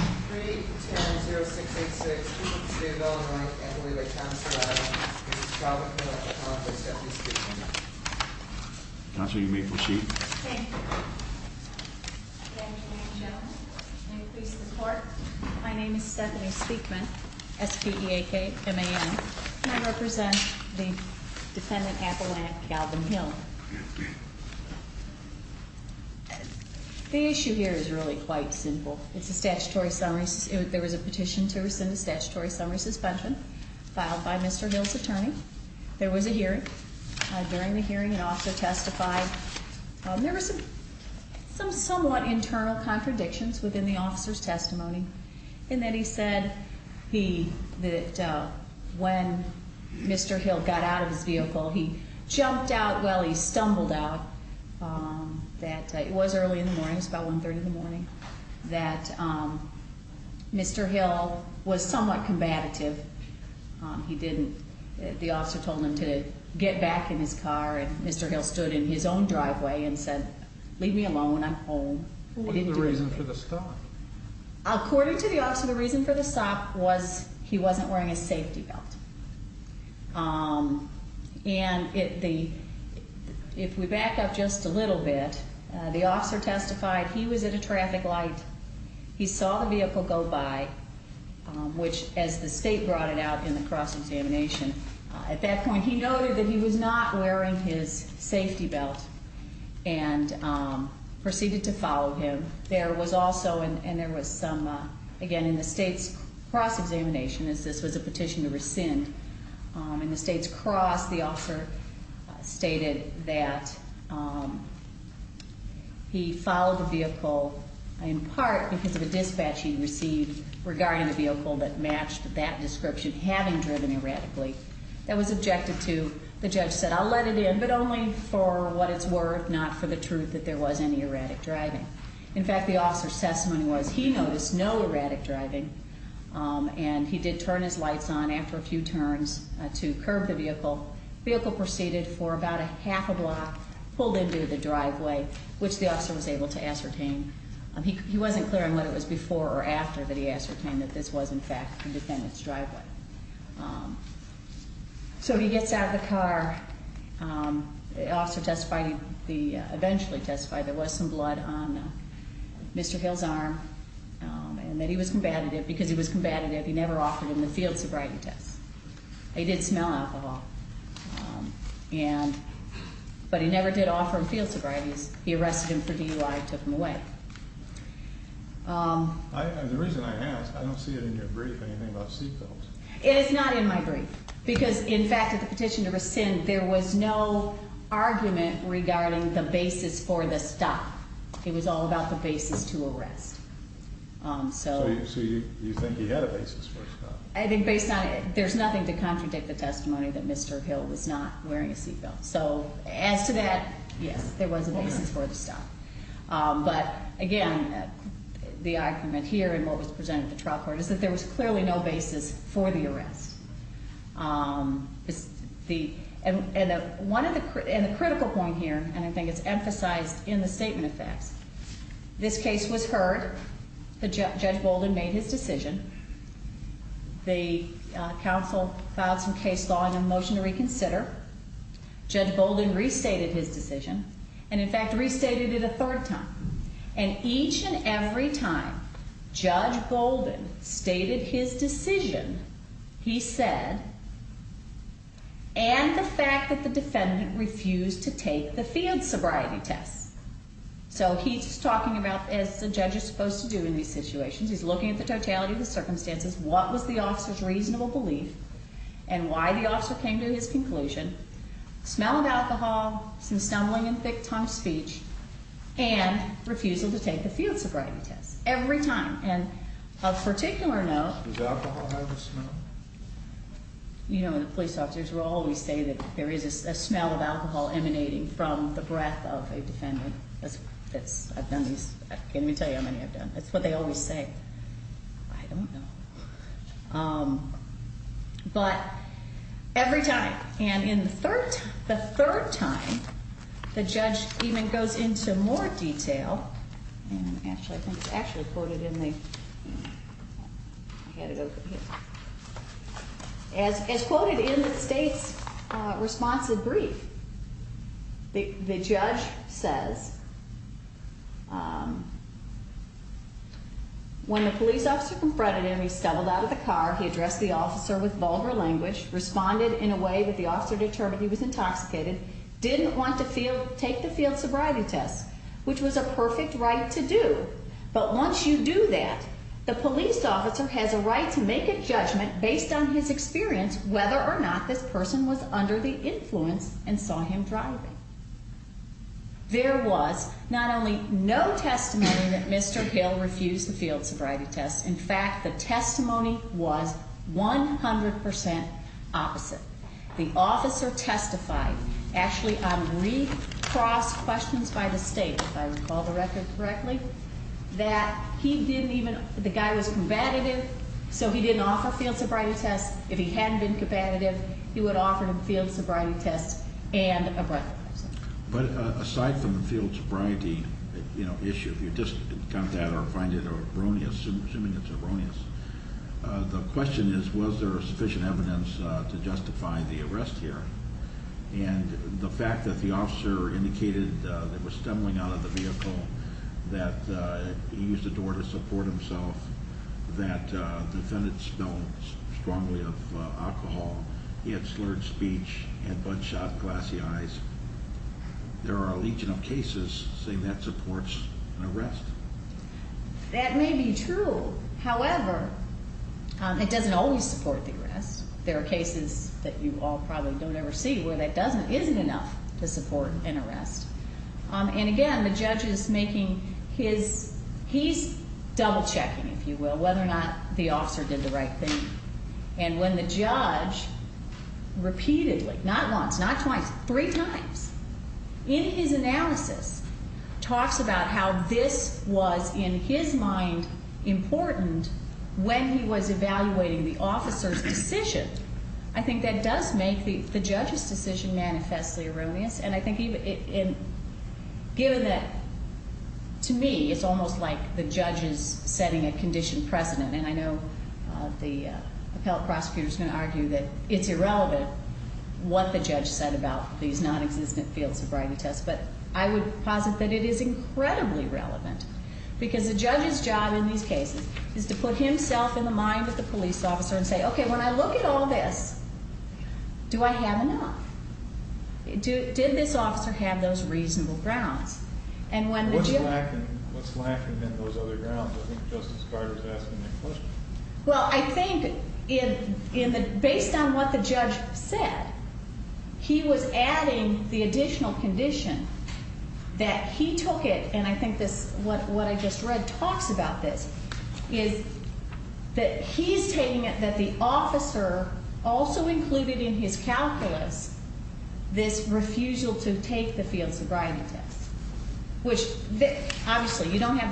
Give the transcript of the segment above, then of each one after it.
3-10-0686, people of the state of Illinois, and I believe that Councilor Stephanie Speakman. Councilor, you may proceed. Thank you. Thank you, ladies and gentlemen. I'm pleased to report, my name is Stephanie Speakman, S-P-E-A-K-M-A-N. And I represent the defendant, Appalachian Calvin Hill. The issue here is really quite simple. It's a statutory summary. There was a petition to rescind the statutory summary suspension filed by Mr. Hill's attorney. There was a hearing. During the hearing, an officer testified. And then he said that when Mr. Hill got out of his vehicle, he jumped out while he stumbled out. It was early in the morning. It was about 1-30 in the morning. That Mr. Hill was somewhat combative. He didn't. The officer told him to get back in his car, and Mr. Hill stood in his own driveway and said, Leave me alone. I'm home. What is the reason for the stop? According to the officer, the reason for the stop was he wasn't wearing a safety belt. And if we back up just a little bit, the officer testified he was at a traffic light. He saw the vehicle go by, which as the state brought it out in the cross-examination, at that point he noted that he was not wearing his safety belt and proceeded to follow him. There was also, and there was some, again, in the state's cross-examination, as this was a petition to rescind, in the state's cross, the officer stated that he followed the vehicle in part because of a dispatch he received regarding the vehicle that matched that description, having driven erratically. That was objected to. The judge said, I'll let it in, but only for what it's worth, not for the truth that there was any erratic driving. In fact, the officer's testimony was he noticed no erratic driving, and he did turn his lights on after a few turns to curb the vehicle. The vehicle proceeded for about a half a block, pulled into the driveway, which the officer was able to ascertain. He wasn't clear on whether it was before or after that he ascertained that this was, in fact, the defendant's driveway. So he gets out of the car. The officer testified, he eventually testified there was some blood on Mr. Hill's arm and that he was combative because he was combative. He never offered him the field sobriety test. He did smell alcohol, but he never did offer him field sobrieties. He arrested him for DUI and took him away. The reason I ask, I don't see it in your brief anything about seatbelts. It is not in my brief because, in fact, at the petition to rescind, there was no argument regarding the basis for the stop. It was all about the basis to arrest. So you think he had a basis for the stop? I think based on it, there's nothing to contradict the testimony that Mr. Hill was not wearing a seatbelt. So as to that, yes, there was a basis for the stop. But, again, the argument here in what was presented at the trial court is that there was clearly no basis for the arrest. And the critical point here, and I think it's emphasized in the statement of facts, this case was heard. Judge Bolden made his decision. The counsel filed some case law and a motion to reconsider. Judge Bolden restated his decision. And, in fact, restated it a third time. And each and every time Judge Bolden stated his decision, he said, and the fact that the defendant refused to take the field sobriety test. So he's talking about, as the judge is supposed to do in these situations, he's looking at the totality of the circumstances, what was the officer's reasonable belief, and why the officer came to his conclusion. Smell of alcohol, some stumbling and thick-tongued speech, and refusal to take the field sobriety test. Every time. And of particular note. Does alcohol have a smell? You know, the police officers will always say that there is a smell of alcohol emanating from the breath of a defendant. I've done these. Let me tell you how many I've done. That's what they always say. I don't know. But every time. And in the third time, the judge even goes into more detail. And actually, I think it's actually quoted in the, I had it over here. As quoted in the state's responsive brief, the judge says, when the police officer confronted him, he stubbled out of the car, he addressed the officer with vulgar language, responded in a way that the officer determined he was intoxicated, didn't want to take the field sobriety test, which was a perfect right to do. But once you do that, the police officer has a right to make a judgment based on his experience whether or not this person was under the influence and saw him driving. There was not only no testimony that Mr. Hill refused the field sobriety test. In fact, the testimony was 100% opposite. The officer testified. Actually, I recrossed questions by the state, if I recall the record correctly, that he didn't even, the guy was combative, so he didn't offer field sobriety tests. If he hadn't been combative, he would offer him field sobriety tests and a breathalyzer. But aside from the field sobriety issue, if you just count that or find it erroneous, assuming it's erroneous, the question is, was there sufficient evidence to justify the arrest here? And the fact that the officer indicated that he was stumbling out of the vehicle, that he used the door to support himself, that the defendant smelled strongly of alcohol, he had slurred speech, had butt shot, glassy eyes. There are a legion of cases saying that supports an arrest. That may be true. However, it doesn't always support the arrest. There are cases that you all probably don't ever see where that doesn't, isn't enough to support an arrest. And again, the judge is making his, he's double checking, if you will, whether or not the officer did the right thing. And when the judge repeatedly, not once, not twice, three times, in his analysis, talks about how this was, in his mind, important when he was evaluating the officer's decision, I think that does make the judge's decision manifestly erroneous. And I think even, given that, to me, it's almost like the judge is setting a conditioned precedent. And I know the appellate prosecutor is going to argue that it's irrelevant what the judge said about these nonexistent field sobriety tests. But I would posit that it is incredibly relevant. Because the judge's job in these cases is to put himself in the mind of the police officer and say, okay, when I look at all this, do I have enough? Did this officer have those reasonable grounds? And when the judge- What's lacking in those other grounds? I think Justice Carter's asking that question. Well, I think based on what the judge said, he was adding the additional condition that he took it, and I think what I just read talks about this, is that he's taking it that the officer also included in his calculus this refusal to take the field sobriety test. Which, obviously, we don't have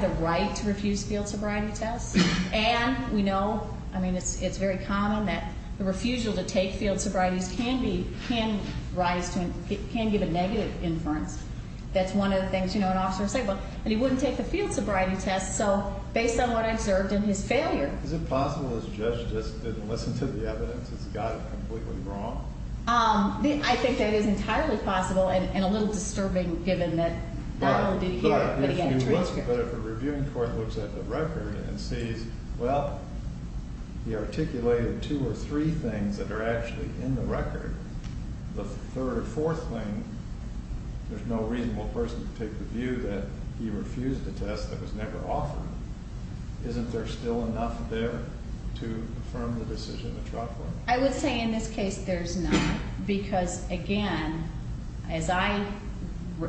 the right to refuse field sobriety tests. And we know, I mean, it's very common that the refusal to take field sobrieties can give a negative inference. That's one of the things an officer would say. But he wouldn't take the field sobriety test, so based on what I observed in his failure- Is it possible this judge just didn't listen to the evidence and got it completely wrong? I think that is entirely possible, and a little disturbing, given that not only did he get it, but he got a transcript. But if a reviewing court looks at the record and sees, well, he articulated two or three things that are actually in the record, the third or fourth thing, there's no reasonable person to take the view that he refused a test that was never offered, isn't there still enough there to affirm the decision to drop one? I would say in this case there's not, because, again, as I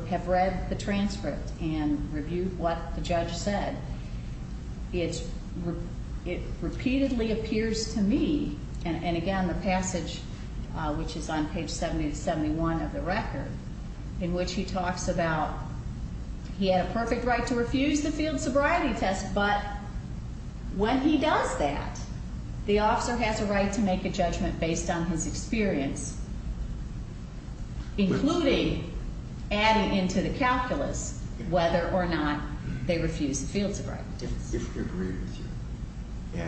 have read the transcript and reviewed what the judge said, it repeatedly appears to me, and again, the passage, which is on page 70 to 71 of the record, in which he talks about he had a perfect right to refuse the field sobriety test, but when he does that, the officer has a right to make a judgment based on his experience, including adding into the calculus whether or not they refused the field sobriety test. If we agree with you,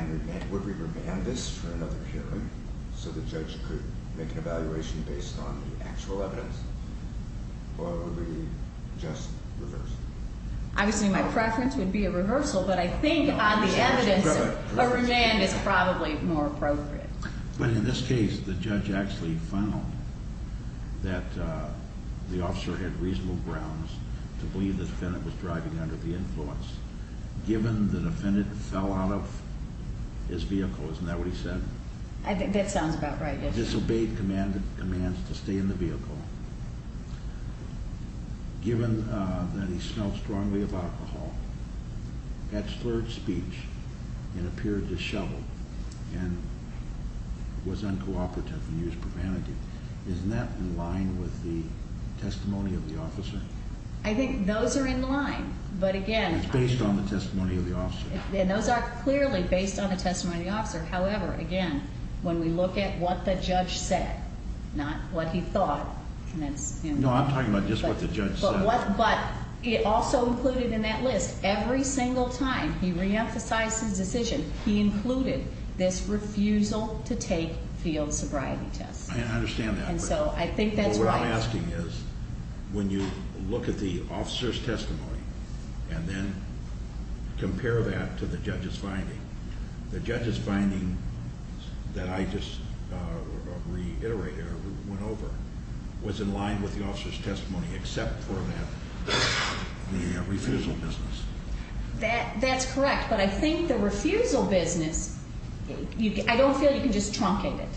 would we remand this for another hearing so the judge could make an evaluation based on the actual evidence, or would we just reverse it? Obviously my preference would be a rehearsal, but I think on the evidence a remand is probably more appropriate. But in this case the judge actually found that the officer had reasonable grounds to believe the defendant was driving under the influence, given the defendant fell out of his vehicle, isn't that what he said? He disobeyed commands to stay in the vehicle, given that he smelled strongly of alcohol, had slurred speech, and appeared disheveled, and was uncooperative and used profanity. Isn't that in line with the testimony of the officer? I think those are in line, but again, It's based on the testimony of the officer. Those are clearly based on the testimony of the officer. However, again, when we look at what the judge said, not what he thought, No, I'm talking about just what the judge said. But it also included in that list, every single time he reemphasized his decision, he included this refusal to take field sobriety tests. I understand that. And so I think that's right. What I'm asking is, when you look at the officer's testimony and then compare that to the judge's finding, the judge's finding, that I just reiterated or went over, was in line with the officer's testimony, except for the refusal business. That's correct. But I think the refusal business, I don't feel you can just truncate it.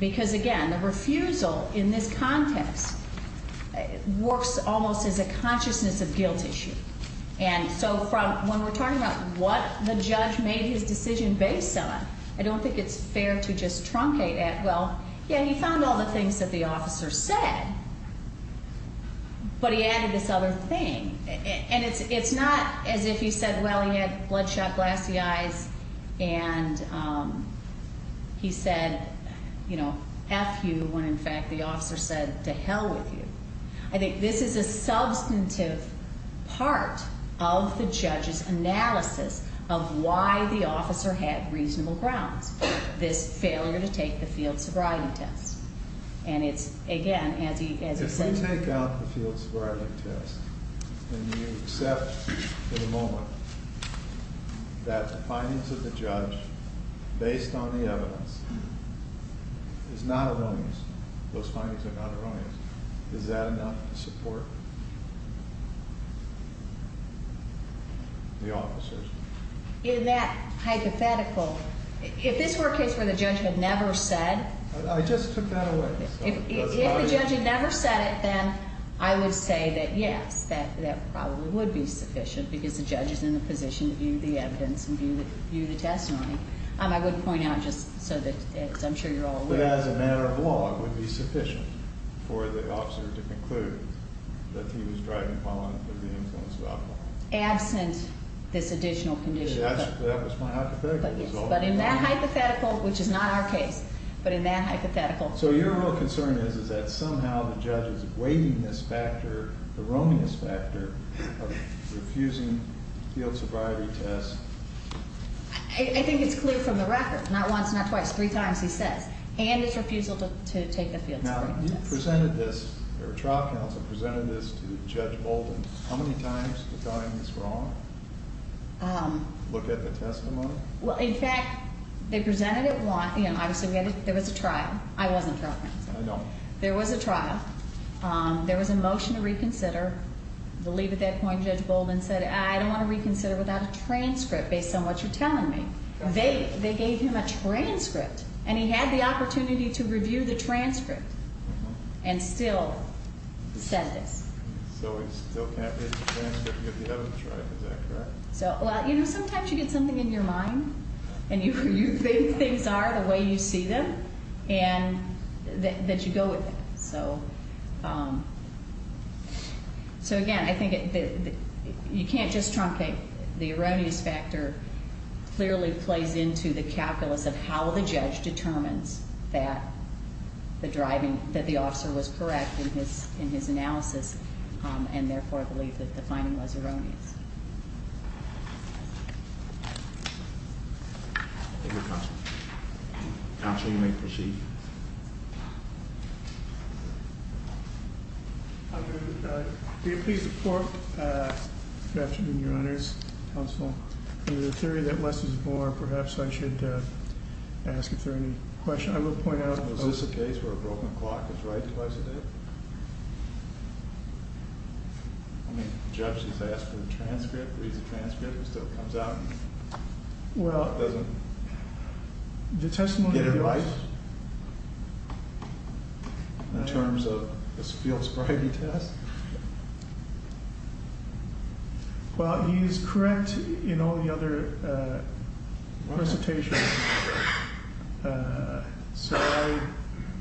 Because, again, the refusal in this context works almost as a consciousness of guilt issue. And so when we're talking about what the judge made his decision based on, I don't think it's fair to just truncate it. Well, yeah, he found all the things that the officer said, but he added this other thing. And it's not as if he said, well, he had bloodshot glassy eyes and he said, you know, F you, when in fact the officer said to hell with you. I think this is a substantive part of the judge's analysis of why the officer had reasonable grounds, this failure to take the field sobriety test. And it's, again, as he said. If you take out the field sobriety test and you accept for the moment that the findings of the judge, based on the evidence, is not erroneous, those findings are not erroneous, is that enough to support the officers? In that hypothetical, if this were a case where the judge had never said. I just took that away. If the judge had never said it, then I would say that, yes, that probably would be sufficient, because the judge is in the position to view the evidence and view the testimony. I would point out just so that I'm sure you're all aware. As a matter of law, it would be sufficient for the officer to conclude that he was driving while under the influence of alcohol. Absent this additional condition. That was my hypothetical. But in that hypothetical, which is not our case, but in that hypothetical. So your real concern is that somehow the judge is weighting this factor, the erroneous factor, of refusing the field sobriety test. I think it's clear from the record. Not once, not twice, three times he says. And his refusal to take the field sobriety test. Now, you presented this, your trial counsel presented this to Judge Bolden. How many times did you tell him it's wrong to look at the testimony? Well, in fact, they presented it once. There was a trial. I wasn't trial counsel. I know. There was a trial. There was a motion to reconsider. I believe at that point Judge Bolden said, I don't want to reconsider without a transcript based on what you're telling me. They gave him a transcript. And he had the opportunity to review the transcript. And still said this. So he still can't review the transcript if he doesn't try. Is that correct? Well, you know, sometimes you get something in your mind. And you think things are the way you see them. And that you go with it. So, again, I think you can't just truncate. The erroneous factor clearly plays into the calculus of how the judge determines that the officer was correct in his analysis. And, therefore, I believe that the finding was erroneous. Counsel, you may proceed. Do you please report? Good afternoon, Your Honors. Counsel. In the theory that less is more, perhaps I should ask if there are any questions. I will point out. Is this a case where a broken clock is right twice a day? I mean, the judge has asked for a transcript, reads the transcript, and still comes out and doesn't get it right? In terms of the Spiels-Bridey test? Well, he's correct in all the other presentations. So I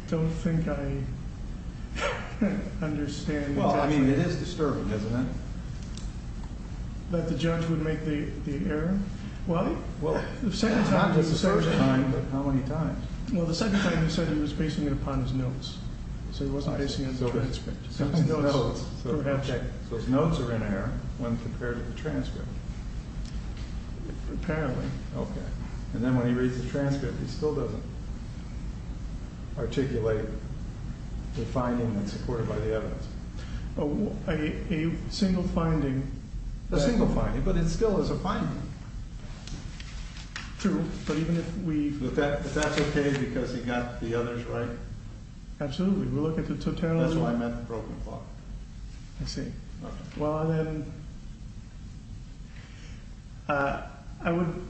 don't think I understand. Well, I mean, it is disturbing, isn't it? That the judge would make the error? Well, the second time was disturbing. Not the first time, but how many times? Well, the second time he said he was basing it upon his notes. So he wasn't basing it on the transcript. So his notes are in error when compared to the transcript. Apparently. Okay. And then when he reads the transcript, he still doesn't articulate the finding that's supported by the evidence. A single finding. A single finding, but it still is a finding. True, but even if we... But that's okay because he got the others right? Absolutely. We look at the totality. That's why I meant the broken clock. I see. Well, then, I would,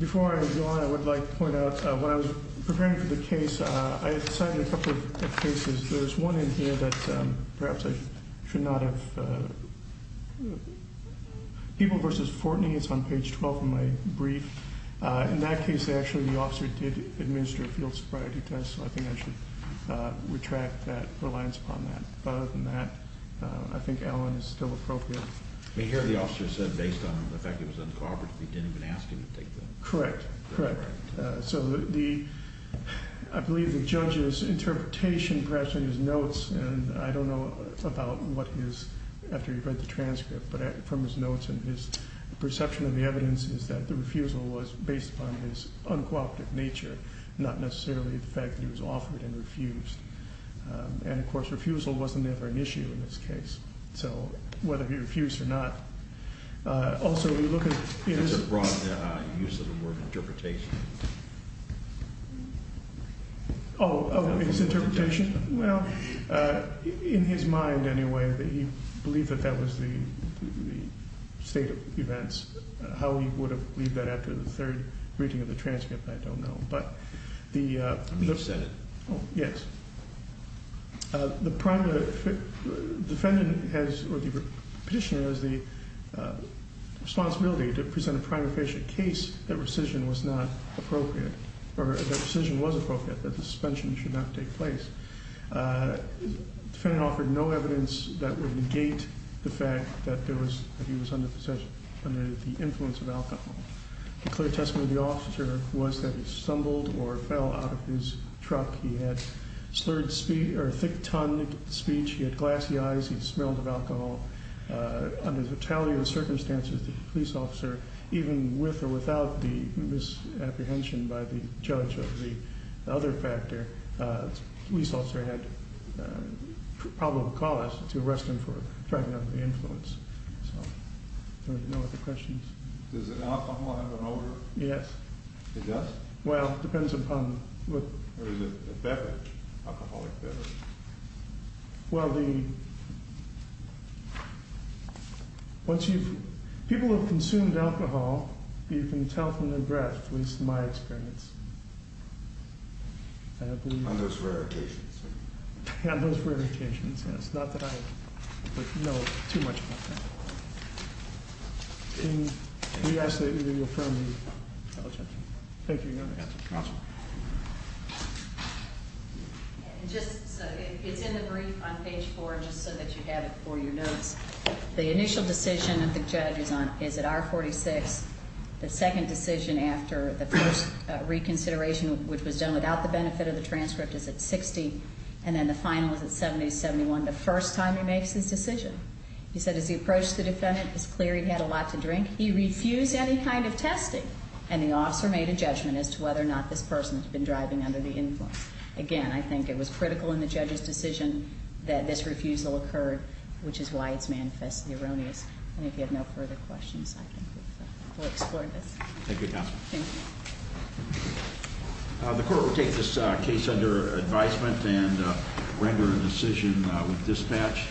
before I go on, I would like to point out, when I was preparing for the case, I had cited a couple of cases. There's one in here that perhaps I should not have. People v. Fortney is on page 12 of my brief. In that case, actually, the officer did administer a field sobriety test, so I think I should retract that reliance upon that. Other than that, I think Allen is still appropriate. Here, the officer said based on the fact that it was uncooperative, he didn't even ask him to take the... Correct. Correct. So, I believe the judge's interpretation perhaps in his notes, and I don't know about what he is after he read the transcript, but from his notes and his perception of the evidence is that the refusal was based upon his uncooperative nature, not necessarily the fact that he was offered and refused. And, of course, refusal wasn't ever an issue in this case. So, whether he refused or not. That's a broad use of the word interpretation. Oh, his interpretation? Well, in his mind, anyway, that he believed that that was the state of events. How he would have believed that after the third reading of the transcript, I don't know. I mean he said it. Oh, yes. The petitioner has the responsibility to present a prima facie case that rescission was not appropriate, or that rescission was appropriate, that the suspension should not take place. The defendant offered no evidence that would negate the fact that he was under the influence of alcohol. The clear testimony of the officer was that he stumbled or fell out of his truck. He had slurred speech or thick-tongued speech. He had glassy eyes. He smelled of alcohol. Under the totality of the circumstances, the police officer, even with or without the misapprehension by the judge of the other factor, the police officer had probable cause to arrest him for driving under the influence. Does alcohol have an odor? Yes. It does? Well, it depends upon what— Or is it a beverage, alcoholic beverage? Well, the—once you've—people have consumed alcohol. You can tell from their breath, at least in my experience. I believe— On those rare occasions. On those rare occasions, yes. Not that I know too much about that. Can we ask that you reaffirm the— Thank you, Your Honor. Counsel. Just so—it's in the brief on page 4, just so that you have it for your notes. The initial decision of the judge is at R46. The second decision after the first reconsideration, which was done without the benefit of the transcript, is at 60. And then the final is at 70-71, the first time he makes this decision. He said, as he approached the defendant, it was clear he had a lot to drink. He refused any kind of testing. And the officer made a judgment as to whether or not this person had been driving under the influence. Again, I think it was critical in the judge's decision that this refusal occurred, which is why it's manifestly erroneous. And if you have no further questions, I think we've—we'll explore this. Thank you, Counsel. Thank you. The court will take this case under advisement and render a decision with dispatch.